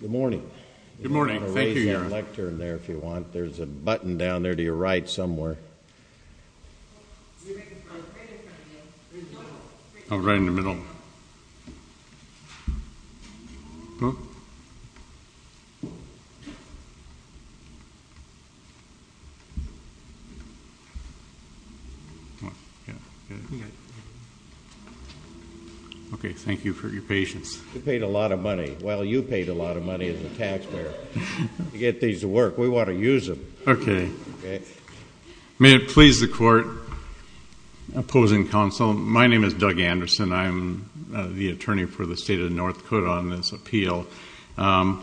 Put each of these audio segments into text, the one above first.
Good morning. Good morning. Thank you, Your Honor. You can raise your lectern there if you want. There's a button down there to your right somewhere. Oh, right in the middle. Okay, thank you for your patience. You paid a lot of money. Well, you paid a lot of money as a taxpayer to get these to work. We want to use them. Okay. May it please the Court, opposing counsel, my name is Doug Anderson. I am the attorney for the State of North Dakota on this appeal. We're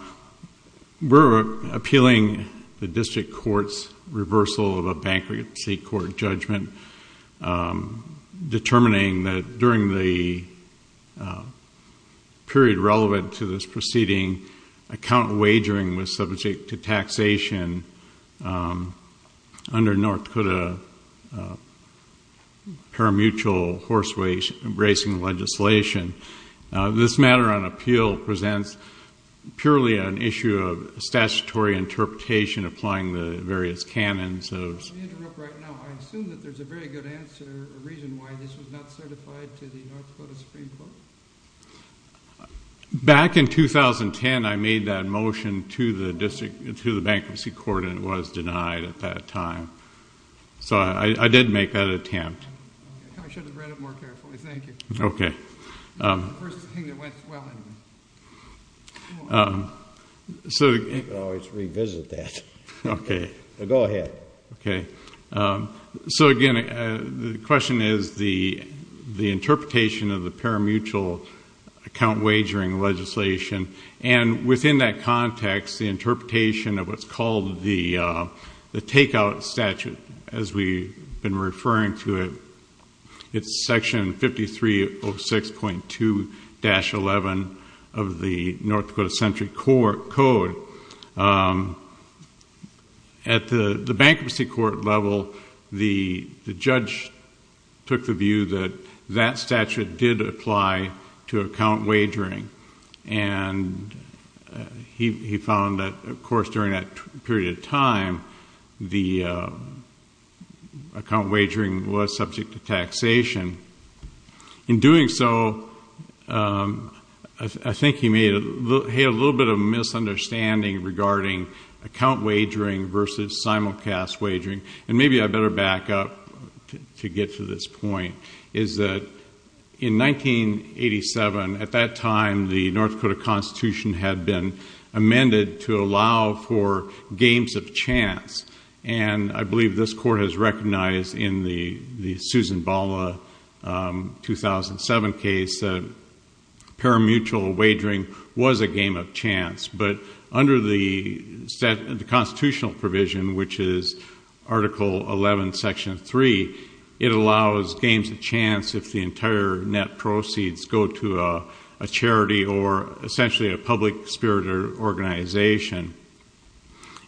appealing the district court's reversal of a bankruptcy court judgment, determining that during the period relevant to this proceeding, account wagering was subject to taxation under North Dakota parimutuel horse racing legislation. This matter on appeal presents purely an issue of statutory interpretation applying the various canons of Let me interrupt right now. I assume that there's a very good answer, a reason why this was not certified to the North Dakota Supreme Court? Back in 2010, I made that motion to the bankruptcy court and it was denied at that time. So I did make that attempt. I should have read it more carefully, thank you. Okay. The first thing that went well anyway. You can always revisit that. Okay. Go ahead. Okay. So, again, the question is the interpretation of the parimutuel account wagering legislation. And within that context, the interpretation of what's called the takeout statute, as we've been referring to it, it's Section 5306.2-11 of the North Dakota Century Code. At the bankruptcy court level, the judge took the view that that statute did apply to account wagering. And he found that, of course, during that period of time, the account wagering was subject to taxation. In doing so, I think he made a little bit of a misunderstanding regarding account wagering versus simulcast wagering. And maybe I better back up to get to this point. Is that in 1987, at that time, the North Dakota Constitution had been amended to allow for games of chance. And I believe this court has recognized in the Susan Bala 2007 case that parimutuel wagering was a game of chance. But under the constitutional provision, which is Article 11, Section 3, it allows games of chance if the entire net proceeds go to a charity or essentially a public spirit organization.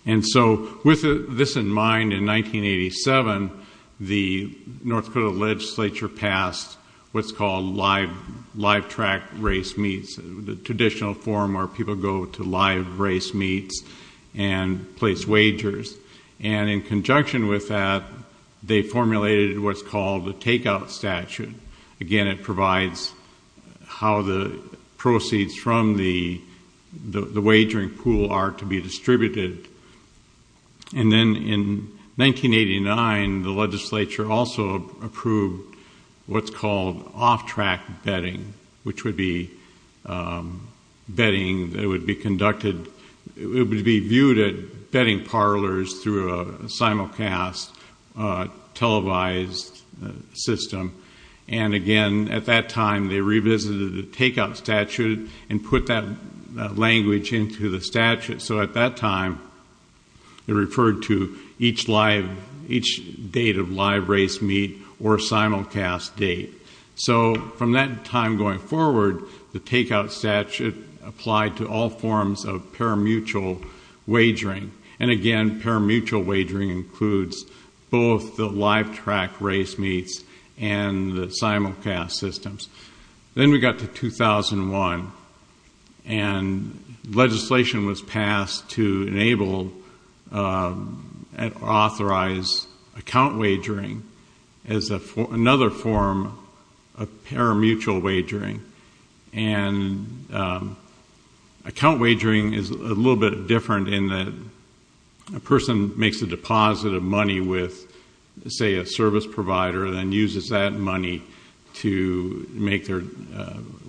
And so with this in mind, in 1987, the North Dakota legislature passed what's called live track race meets, the traditional form where people go to live race meets and place wagers. And in conjunction with that, they formulated what's called the takeout statute. Again, it provides how the proceeds from the wagering pool are to be distributed. And then in 1989, the legislature also approved what's called off track betting, which would be viewed at betting parlors through a simulcast televised system. And again, at that time, they revisited the takeout statute and put that language into the statute. So at that time, it referred to each date of live race meet or simulcast date. So from that time going forward, the takeout statute applied to all forms of parimutuel wagering. And again, parimutuel wagering includes both the live track race meets and the simulcast systems. Then we got to 2001, and legislation was passed to enable and authorize account wagering as another form of parimutuel wagering. And account wagering is a little bit different in that a person makes a deposit of money with, say, a service provider and then uses that money to make their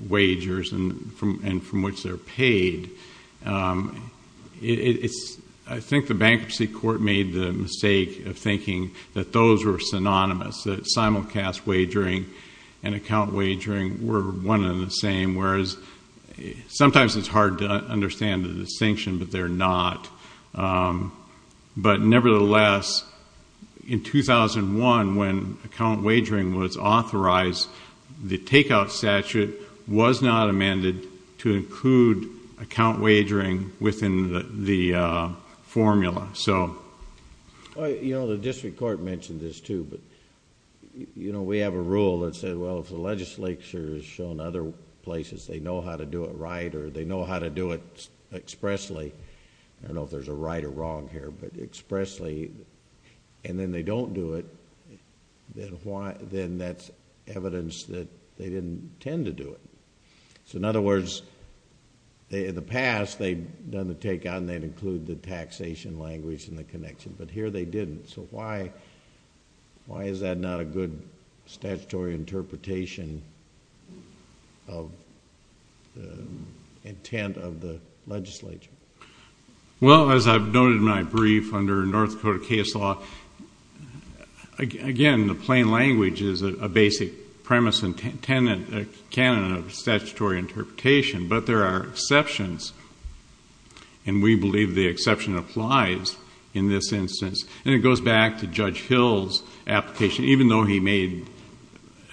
wagers and from which they're paid. I think the bankruptcy court made the mistake of thinking that those were synonymous, that simulcast wagering and account wagering were one and the same, whereas sometimes it's hard to understand the distinction, but they're not. But nevertheless, in 2001, when account wagering was authorized, the takeout statute was not amended to include account wagering within the formula. The district court mentioned this too, but we have a rule that says, well, if the legislature has shown other places they know how to do it right or they know how to do it expressly, I don't know if there's a right or wrong here, but expressly, and then they don't do it, then that's evidence that they didn't intend to do it. So in other words, in the past, they'd done the takeout and they'd include the taxation language and the connection, but here they didn't. So why is that not a good statutory interpretation of the intent of the legislature? Well, as I've noted in my brief under North Dakota case law, again, the plain language is a basic premise and canon of statutory interpretation, but there are exceptions, and we believe the exception applies in this instance. And it goes back to Judge Hill's application. Even though he made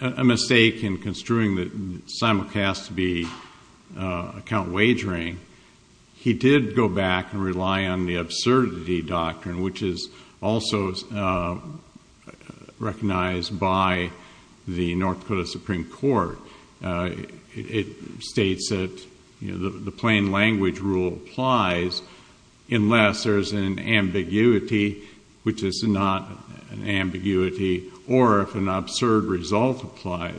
a mistake in construing the simulcast to be account wagering, he did go back and rely on the absurdity doctrine, which is also recognized by the North Dakota Supreme Court. It states that the plain language rule applies unless there's an ambiguity, which is not an ambiguity, or if an absurd result applies.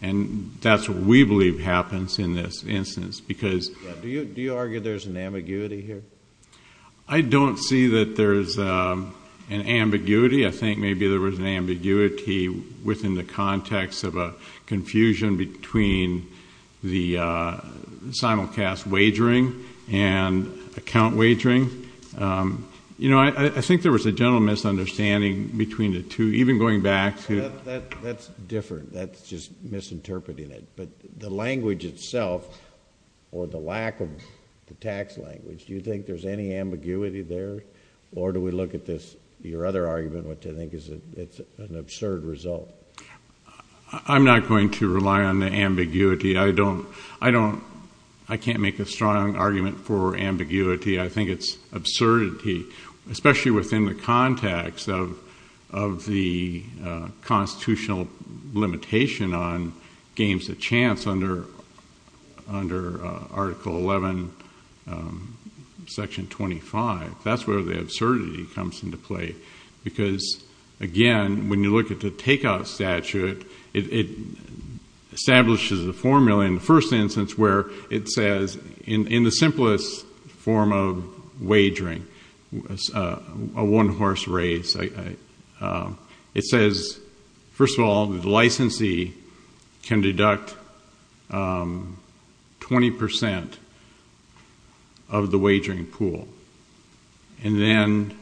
And that's what we believe happens in this instance. Do you argue there's an ambiguity here? I don't see that there's an ambiguity. I think maybe there was an ambiguity within the context of a confusion between the simulcast wagering and account wagering. I think there was a general misunderstanding between the two, even going back to— That's different. That's just misinterpreting it. But the language itself, or the lack of the tax language, do you think there's any ambiguity there? Or do we look at this, your other argument, which I think is it's an absurd result? I'm not going to rely on the ambiguity. I don't—I can't make a strong argument for ambiguity. I think it's absurdity, especially within the context of the constitutional limitation on games of chance under Article 11, Section 25. That's where the absurdity comes into play because, again, when you look at the takeout statute, it establishes a formula in the first instance where it says, in the simplest form of wagering, a one-horse race, it says, first of all, the licensee can deduct 20 percent of the wagering pool, and then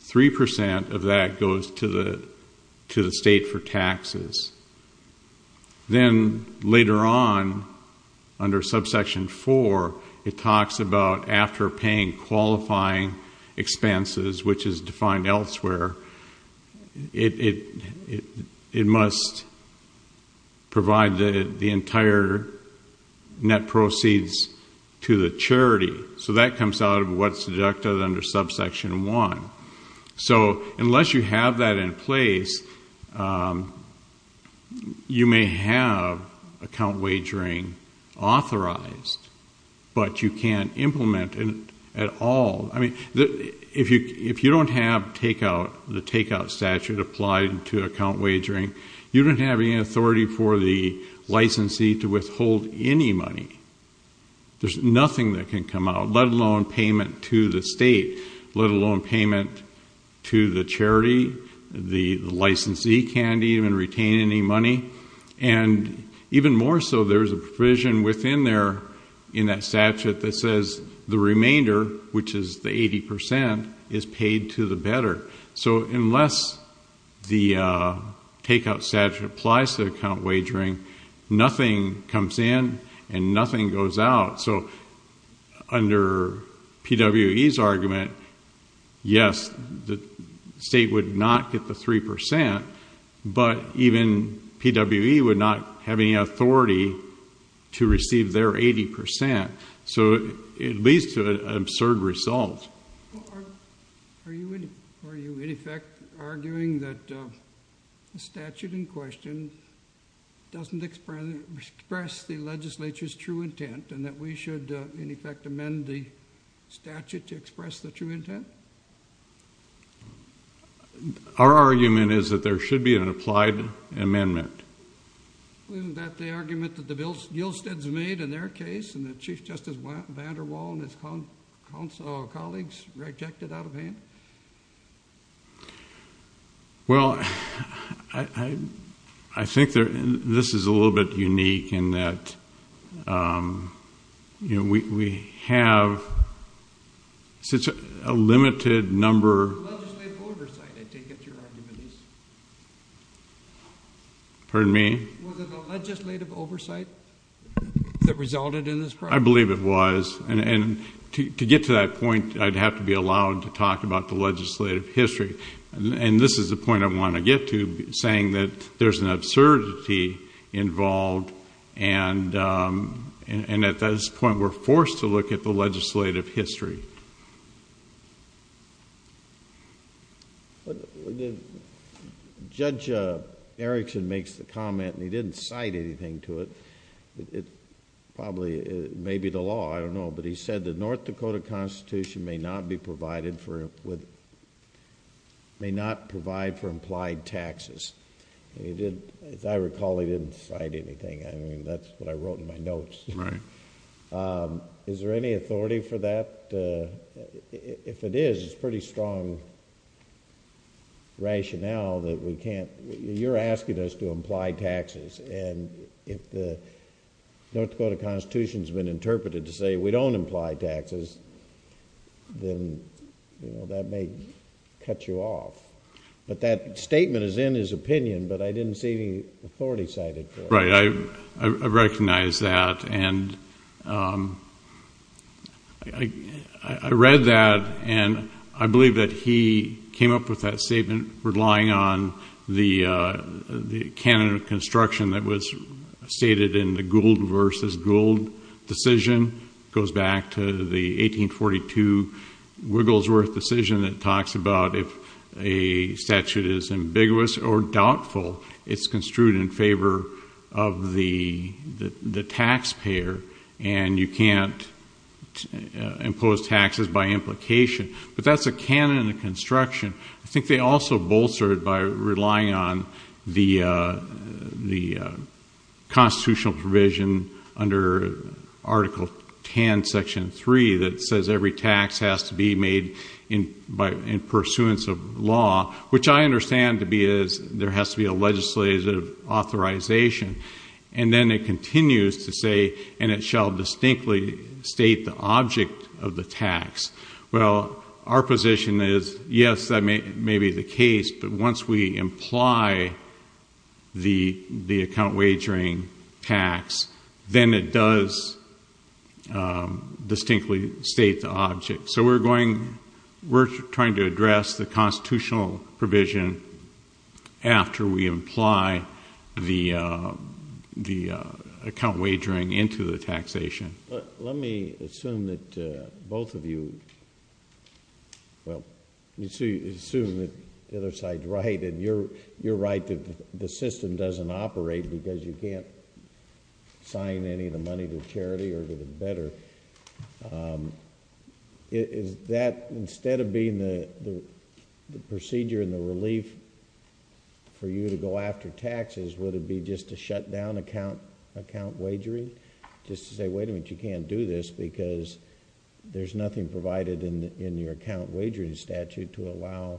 3 percent of that goes to the state for taxes. Then, later on, under Subsection 4, it talks about after paying qualifying expenses, which is defined elsewhere, it must provide the entire net proceeds to the charity. So that comes out of what's deducted under Subsection 1. So unless you have that in place, you may have account wagering authorized, but you can't implement it at all. I mean, if you don't have the takeout statute applied to account wagering, you don't have any authority for the licensee to withhold any money. There's nothing that can come out, let alone payment to the state, let alone payment to the charity. The licensee can't even retain any money. And even more so, there's a provision within there in that statute that says the remainder, which is the 80 percent, is paid to the better. So unless the takeout statute applies to account wagering, nothing comes in and nothing goes out. So under PWE's argument, yes, the state would not get the 3 percent, but even PWE would not have any authority to receive their 80 percent. So it leads to an absurd result. Are you, in effect, arguing that the statute in question doesn't express the legislature's true intent and that we should, in effect, amend the statute to express the true intent? Our argument is that there should be an applied amendment. Well, isn't that the argument that the Gilsteads made in their case and that Chief Justice VanderWaal and his colleagues rejected out of hand? Well, I think this is a little bit unique in that we have such a limited number... Was it the legislative oversight that resulted in this problem? I believe it was. And to get to that point, I'd have to be allowed to talk about the legislative history. And this is the point I want to get to, saying that there's an absurdity involved and at this point we're forced to look at the legislative history. Judge Erickson makes the comment, and he didn't cite anything to it, probably maybe the law, I don't know, but he said the North Dakota Constitution may not provide for implied taxes. As I recall, he didn't cite anything. I mean, that's what I wrote in my notes. Right. Is there any authority for that? In fact, if it is, it's pretty strong rationale that we can't... You're asking us to imply taxes, and if the North Dakota Constitution has been interpreted to say we don't imply taxes, then that may cut you off. But that statement is in his opinion, but I didn't see any authority cited for it. Right. I recognize that. And I read that, and I believe that he came up with that statement relying on the canon of construction that was stated in the Gould versus Gould decision. It goes back to the 1842 Wigglesworth decision that talks about if a statute is ambiguous or doubtful, it's construed in favor of the taxpayer, and you can't impose taxes by implication. But that's a canon of construction. I think they also bolstered it by relying on the constitutional provision under Article 10, Section 3, that says every tax has to be made in pursuance of law, which I understand to be is there has to be a legislative authorization. And then it continues to say, and it shall distinctly state the object of the tax. Well, our position is, yes, that may be the case, but once we imply the account wagering tax, then it does distinctly state the object. So we're trying to address the constitutional provision after we imply the account wagering into the taxation. Let me assume that both of you, well, assume that the other side is right, and you're right that the system doesn't operate because you can't sign any of the money to charity or to the debtor. Is that, instead of being the procedure and the relief for you to go after taxes, would it be just to shut down account wagering? Just to say, wait a minute, you can't do this because there's nothing provided in your account wagering statute to allow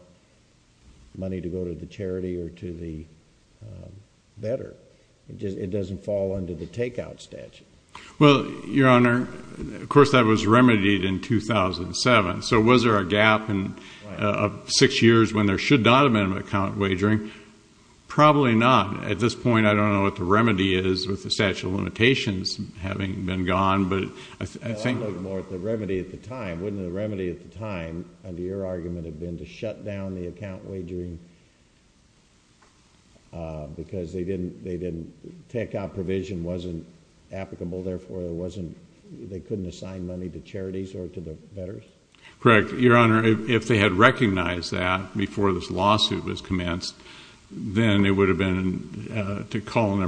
money to go to the charity or to the debtor. It doesn't fall under the takeout statute. Well, Your Honor, of course that was remedied in 2007. So was there a gap of six years when there should not have been an account wagering? Probably not. At this point, I don't know what the remedy is with the statute of limitations having been gone. I'm looking more at the remedy at the time. Wouldn't the remedy at the time, under your argument, have been to shut down the account wagering? Because takeout provision wasn't applicable, therefore they couldn't assign money to charities or to the debtors? Correct. Your Honor, if they had recognized that before this lawsuit was commenced, then it would have been appropriate to call an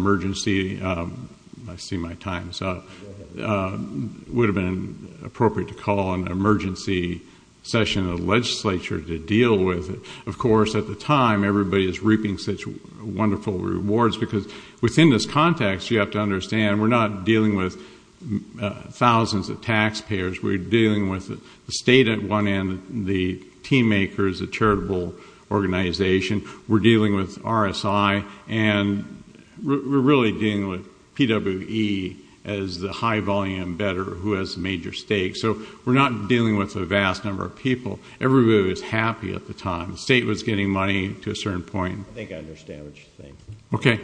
emergency session of the legislature to deal with it. Of course, at the time, everybody was reaping such wonderful rewards because within this context, you have to understand, we're not dealing with thousands of taxpayers. We're dealing with the state at one end, the team makers, the charitable organization. We're dealing with RSI, and we're really dealing with PWE as the high-volume debtor who has major stakes. So we're not dealing with a vast number of people. Everybody was happy at the time. The state was getting money to a certain point. I think I understand what you're saying. Okay.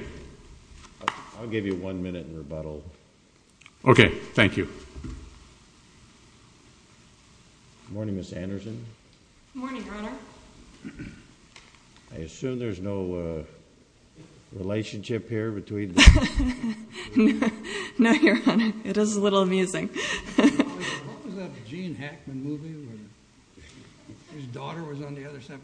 I'll give you one minute in rebuttal. Okay. Thank you. Good morning, Ms. Anderson. Good morning, Your Honor. I assume there's no relationship here between the two. No, Your Honor. It is a little amusing. What was that Gene Hackman movie where his daughter was on the other side?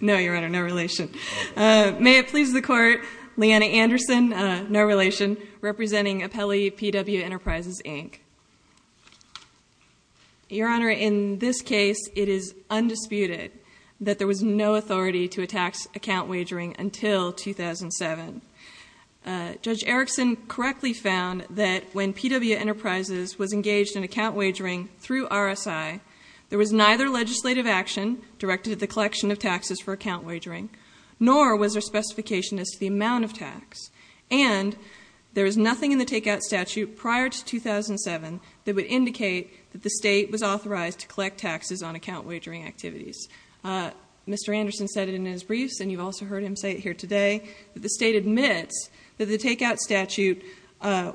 No, Your Honor, no relation. May it please the Court, Leanna Anderson, no relation, representing Apelli P.W. Enterprises, Inc. Your Honor, in this case, it is undisputed that there was no authority to a tax account wagering until 2007. Judge Erickson correctly found that when P.W. Enterprises was engaged in account wagering through RSI, there was neither legislative action directed at the collection of taxes for account wagering, nor was there specification as to the amount of tax. And there was nothing in the takeout statute prior to 2007 that would indicate that the state was authorized to collect taxes on account wagering activities. Mr. Anderson said it in his briefs, and you've also heard him say it here today, that the state admits that the takeout statute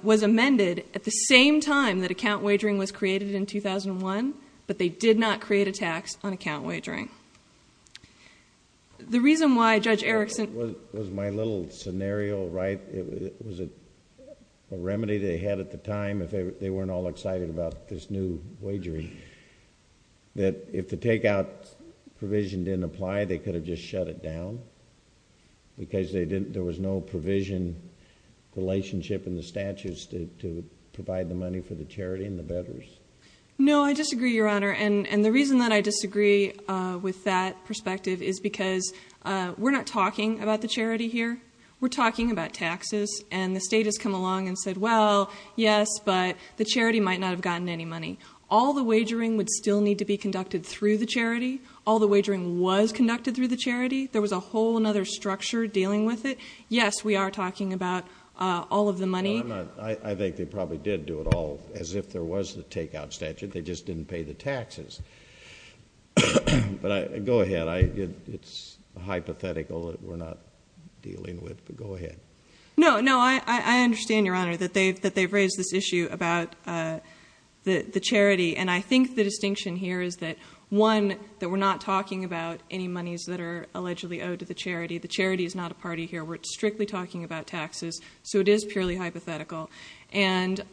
was amended at the same time that account wagering was created in 2001, but they did not create a tax on account wagering. The reason why Judge Erickson... Was my little scenario right? Was it a remedy they had at the time if they weren't all excited about this new wagering? That if the takeout provision didn't apply, they could have just shut it down? Because there was no provision relationship in the statutes to provide the money for the charity and the bettors? No, I disagree, Your Honor. And the reason that I disagree with that perspective is because we're not talking about the charity here. We're talking about taxes. And the state has come along and said, well, yes, but the charity might not have gotten any money. All the wagering would still need to be conducted through the charity. All the wagering was conducted through the charity. There was a whole other structure dealing with it. Yes, we are talking about all of the money. No, I'm not. I think they probably did do it all as if there was the takeout statute. They just didn't pay the taxes. But go ahead. It's a hypothetical that we're not dealing with, but go ahead. No, no, I understand, Your Honor, that they've raised this issue about the charity. And I think the distinction here is that, one, that we're not talking about any monies that are allegedly owed to the charity. The charity is not a party here. We're strictly talking about taxes. So it is purely hypothetical. And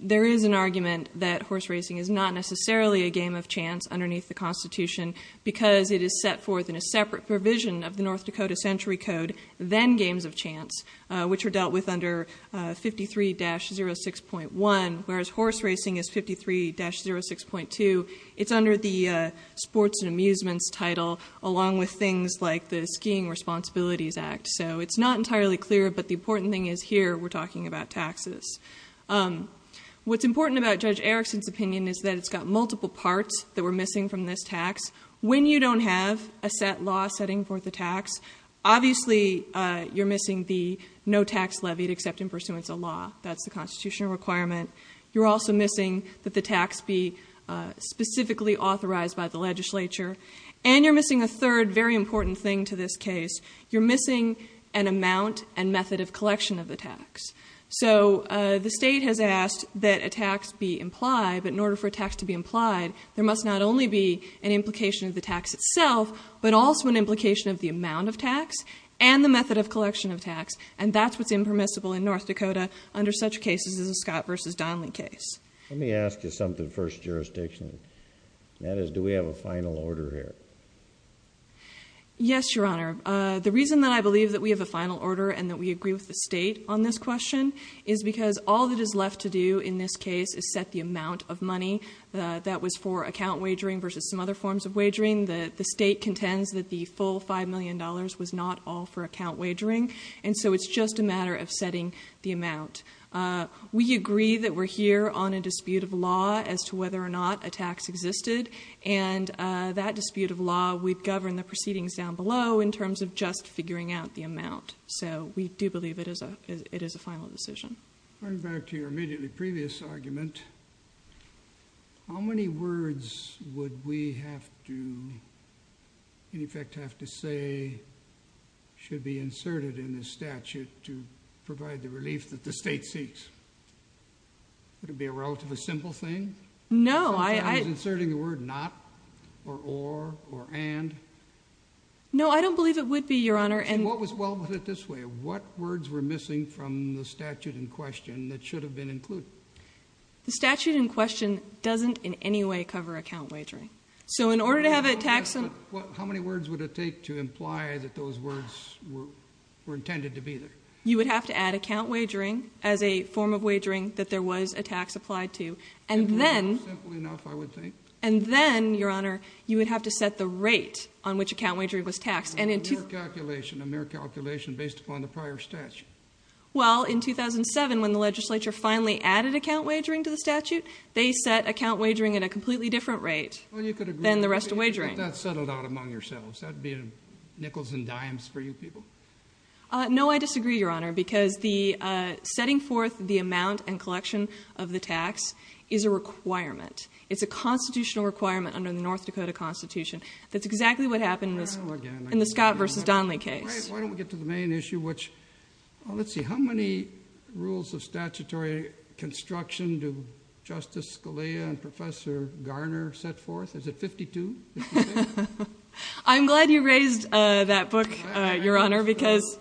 there is an argument that horse racing is not necessarily a game of chance underneath the Constitution because it is set forth in a separate provision of the North Dakota Century Code than games of chance, which are dealt with under 53-06.1, whereas horse racing is 53-06.2. It's under the sports and amusements title, along with things like the Skiing Responsibilities Act. So it's not entirely clear, but the important thing is here we're talking about taxes. What's important about Judge Erickson's opinion is that it's got multiple parts that we're missing from this tax. When you don't have a set law setting forth a tax, obviously you're missing the no tax levied except in pursuance of law. That's the constitutional requirement. You're also missing that the tax be specifically authorized by the legislature. And you're missing a third very important thing to this case. You're missing an amount and method of collection of the tax. So the state has asked that a tax be implied. But in order for a tax to be implied, there must not only be an implication of the tax itself, but also an implication of the amount of tax and the method of collection of tax. And that's what's impermissible in North Dakota under such cases as the Scott v. Donley case. Let me ask you something, First Jurisdiction. That is, do we have a final order here? Yes, Your Honor. The reason that I believe that we have a final order and that we agree with the state on this question is because all that is left to do in this case is set the amount of money that was for account wagering versus some other forms of wagering. The state contends that the full $5 million was not all for account wagering. And so it's just a matter of setting the amount. We agree that we're here on a dispute of law as to whether or not a tax existed. And that dispute of law, we've governed the proceedings down below in terms of just figuring out the amount. So we do believe it is a final decision. Going back to your immediately previous argument, how many words would we have to, in effect, have to say should be inserted in this statute to provide the relief that the state seeks? Would it be a relatively simple thing? No. I was inserting the word not, or or, or and. No, I don't believe it would be, Your Honor. What was well with it this way? What words were missing from the statute in question that should have been included? The statute in question doesn't in any way cover account wagering. So in order to have a tax— How many words would it take to imply that those words were intended to be there? You would have to add account wagering as a form of wagering that there was a tax applied to. And then— Simple enough, I would think. And then, Your Honor, you would have to set the rate on which account wagering was taxed. A mere calculation, a mere calculation based upon the prior statute. Well, in 2007, when the legislature finally added account wagering to the statute, they set account wagering at a completely different rate than the rest of wagering. Well, you could agree with me, but that's settled out among yourselves. That would be in nickels and dimes for you people. No, I disagree, Your Honor, because setting forth the amount and collection of the tax is a requirement. It's a constitutional requirement under the North Dakota Constitution. That's exactly what happened in the Scott v. Donley case. Why don't we get to the main issue, which— Let's see, how many rules of statutory construction do Justice Scalia and Professor Garner set forth? Is it 52? I'm glad you raised that book, Your Honor, because—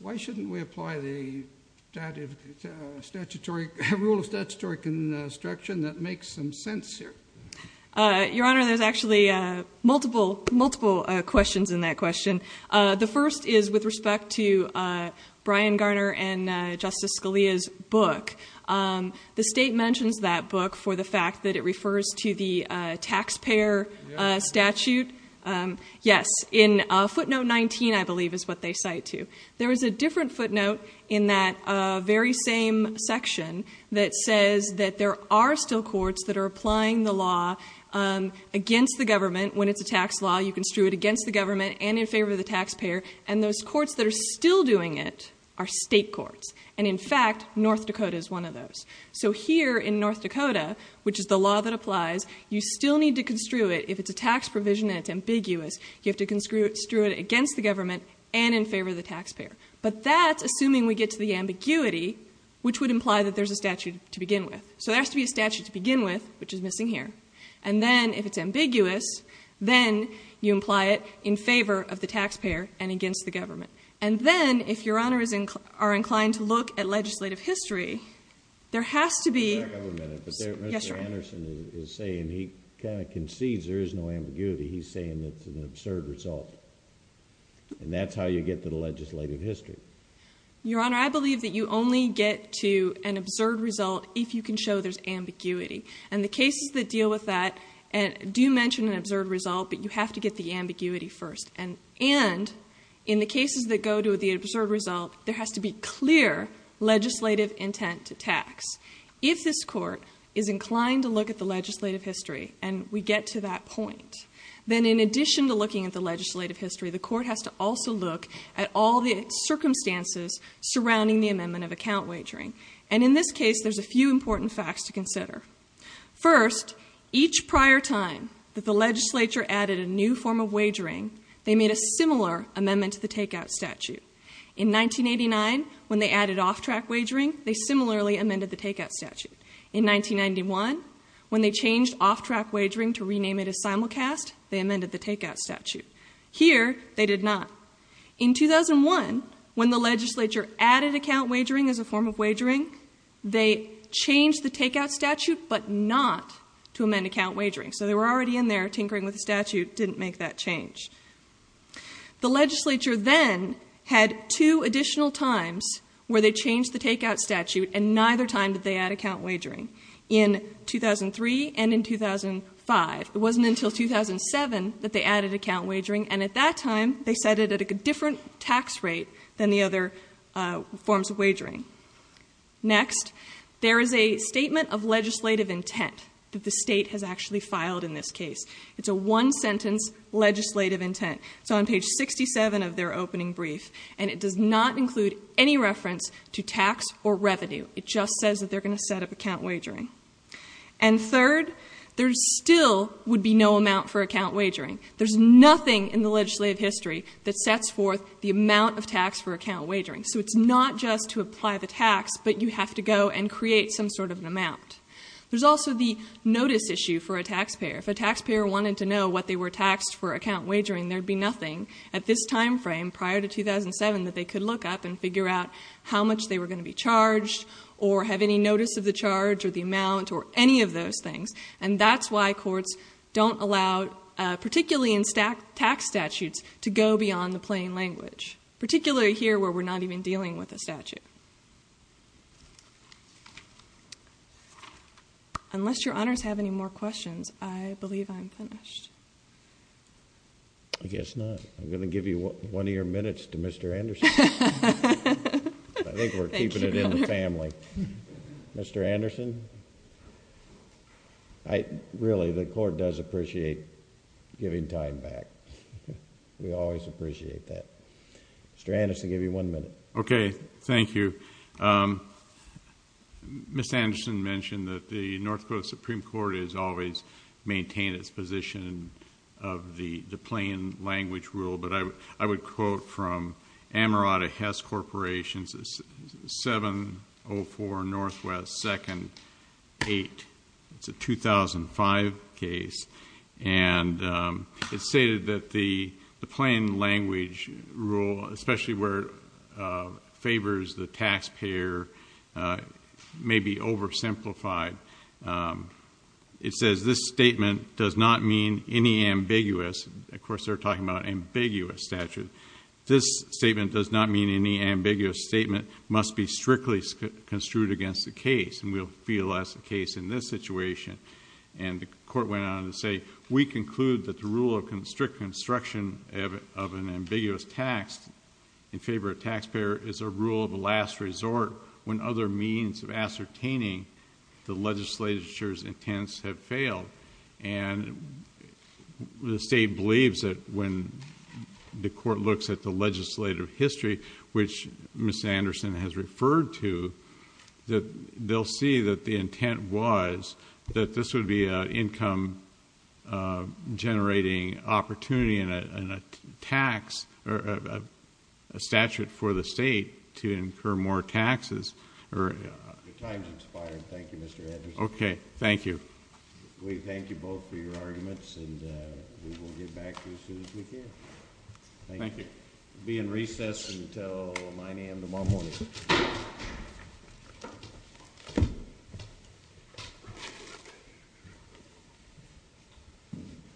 Why shouldn't we apply the rule of statutory construction that makes some sense here? Your Honor, there's actually multiple questions in that question. The first is with respect to Brian Garner and Justice Scalia's book. The state mentions that book for the fact that it refers to the taxpayer statute. Yes, in footnote 19, I believe, is what they cite to. There is a different footnote in that very same section that says that there are still courts that are applying the law against the government. When it's a tax law, you construe it against the government and in favor of the taxpayer. And those courts that are still doing it are state courts. And in fact, North Dakota is one of those. So here in North Dakota, which is the law that applies, you still need to construe it. If it's a tax provision and it's ambiguous, you have to construe it against the government and in favor of the taxpayer. But that's assuming we get to the ambiguity, which would imply that there's a statute to begin with. So there has to be a statute to begin with, which is missing here. And then if it's ambiguous, then you imply it in favor of the taxpayer and against the government. And then, if Your Honor are inclined to look at legislative history, there has to be— Just a minute. Yes, Your Honor. Mr. Anderson is saying he kind of concedes there is no ambiguity. He's saying it's an absurd result. And that's how you get to the legislative history. Your Honor, I believe that you only get to an absurd result if you can show there's ambiguity. And the cases that deal with that do mention an absurd result, but you have to get the ambiguity first. And in the cases that go to the absurd result, there has to be clear legislative intent to tax. If this Court is inclined to look at the legislative history and we get to that point, then in addition to looking at the legislative history, the Court has to also look at all the circumstances surrounding the amendment of account wagering. And in this case, there's a few important facts to consider. First, each prior time that the legislature added a new form of wagering, they made a similar amendment to the takeout statute. In 1989, when they added off-track wagering, they similarly amended the takeout statute. In 1991, when they changed off-track wagering to rename it as simulcast, they amended the takeout statute. Here, they did not. In 2001, when the legislature added account wagering as a form of wagering, they changed the takeout statute, but not to amend account wagering. So they were already in there tinkering with the statute, didn't make that change. The legislature then had two additional times where they changed the takeout statute and neither time did they add account wagering, in 2003 and in 2005. It wasn't until 2007 that they added account wagering, and at that time, they set it at a different tax rate than the other forms of wagering. Next, there is a statement of legislative intent that the state has actually filed in this case. It's a one-sentence legislative intent. It's on page 67 of their opening brief, and it does not include any reference to tax or revenue. It just says that they're going to set up account wagering. And third, there still would be no amount for account wagering. There's nothing in the legislative history that sets forth the amount of tax for account wagering. So it's not just to apply the tax, but you have to go and create some sort of an amount. There's also the notice issue for a taxpayer. If a taxpayer wanted to know what they were taxed for account wagering, there'd be nothing at this time frame, prior to 2007, that they could look up and figure out how much they were going to be charged or have any notice of the charge or the amount or any of those things. And that's why courts don't allow, particularly in tax statutes, to go beyond the plain language, particularly here where we're not even dealing with a statute. Unless your honors have any more questions, I believe I'm finished. I guess not. I'm going to give you one of your minutes to Mr. Anderson. I think we're keeping it in the family. Mr. Anderson? Really, the court does appreciate giving time back. We always appreciate that. Mr. Anderson, I'll give you one minute. Okay, thank you. Ms. Anderson mentioned that the North Dakota Supreme Court has always maintained its position of the plain language rule, but I would quote from Amarada Hess Corporation, 704 NW 2nd 8, it's a 2005 case, and it's stated that the plain language rule, especially where it favors the taxpayer, may be oversimplified. It says, this statement does not mean any ambiguous. Of course, they're talking about ambiguous statutes. This statement does not mean any ambiguous statement must be strictly construed against the case, and we'll feel that's the case in this situation. The court went on to say, we conclude that the rule of strict construction of an ambiguous tax in favor of a taxpayer is a rule of last resort when other means of ascertaining the legislature's intents have failed. The state believes that when the court looks at the legislative history, which Ms. Anderson has referred to, they'll see that the intent was that this would be an income generating opportunity, and a statute for the state to incur more taxes. Your time's expired. Thank you, Mr. Anderson. Okay, thank you. We thank you both for your arguments, and we will get back to you as soon as we can. Thank you. We'll be in recess until 9 a.m. tomorrow morning.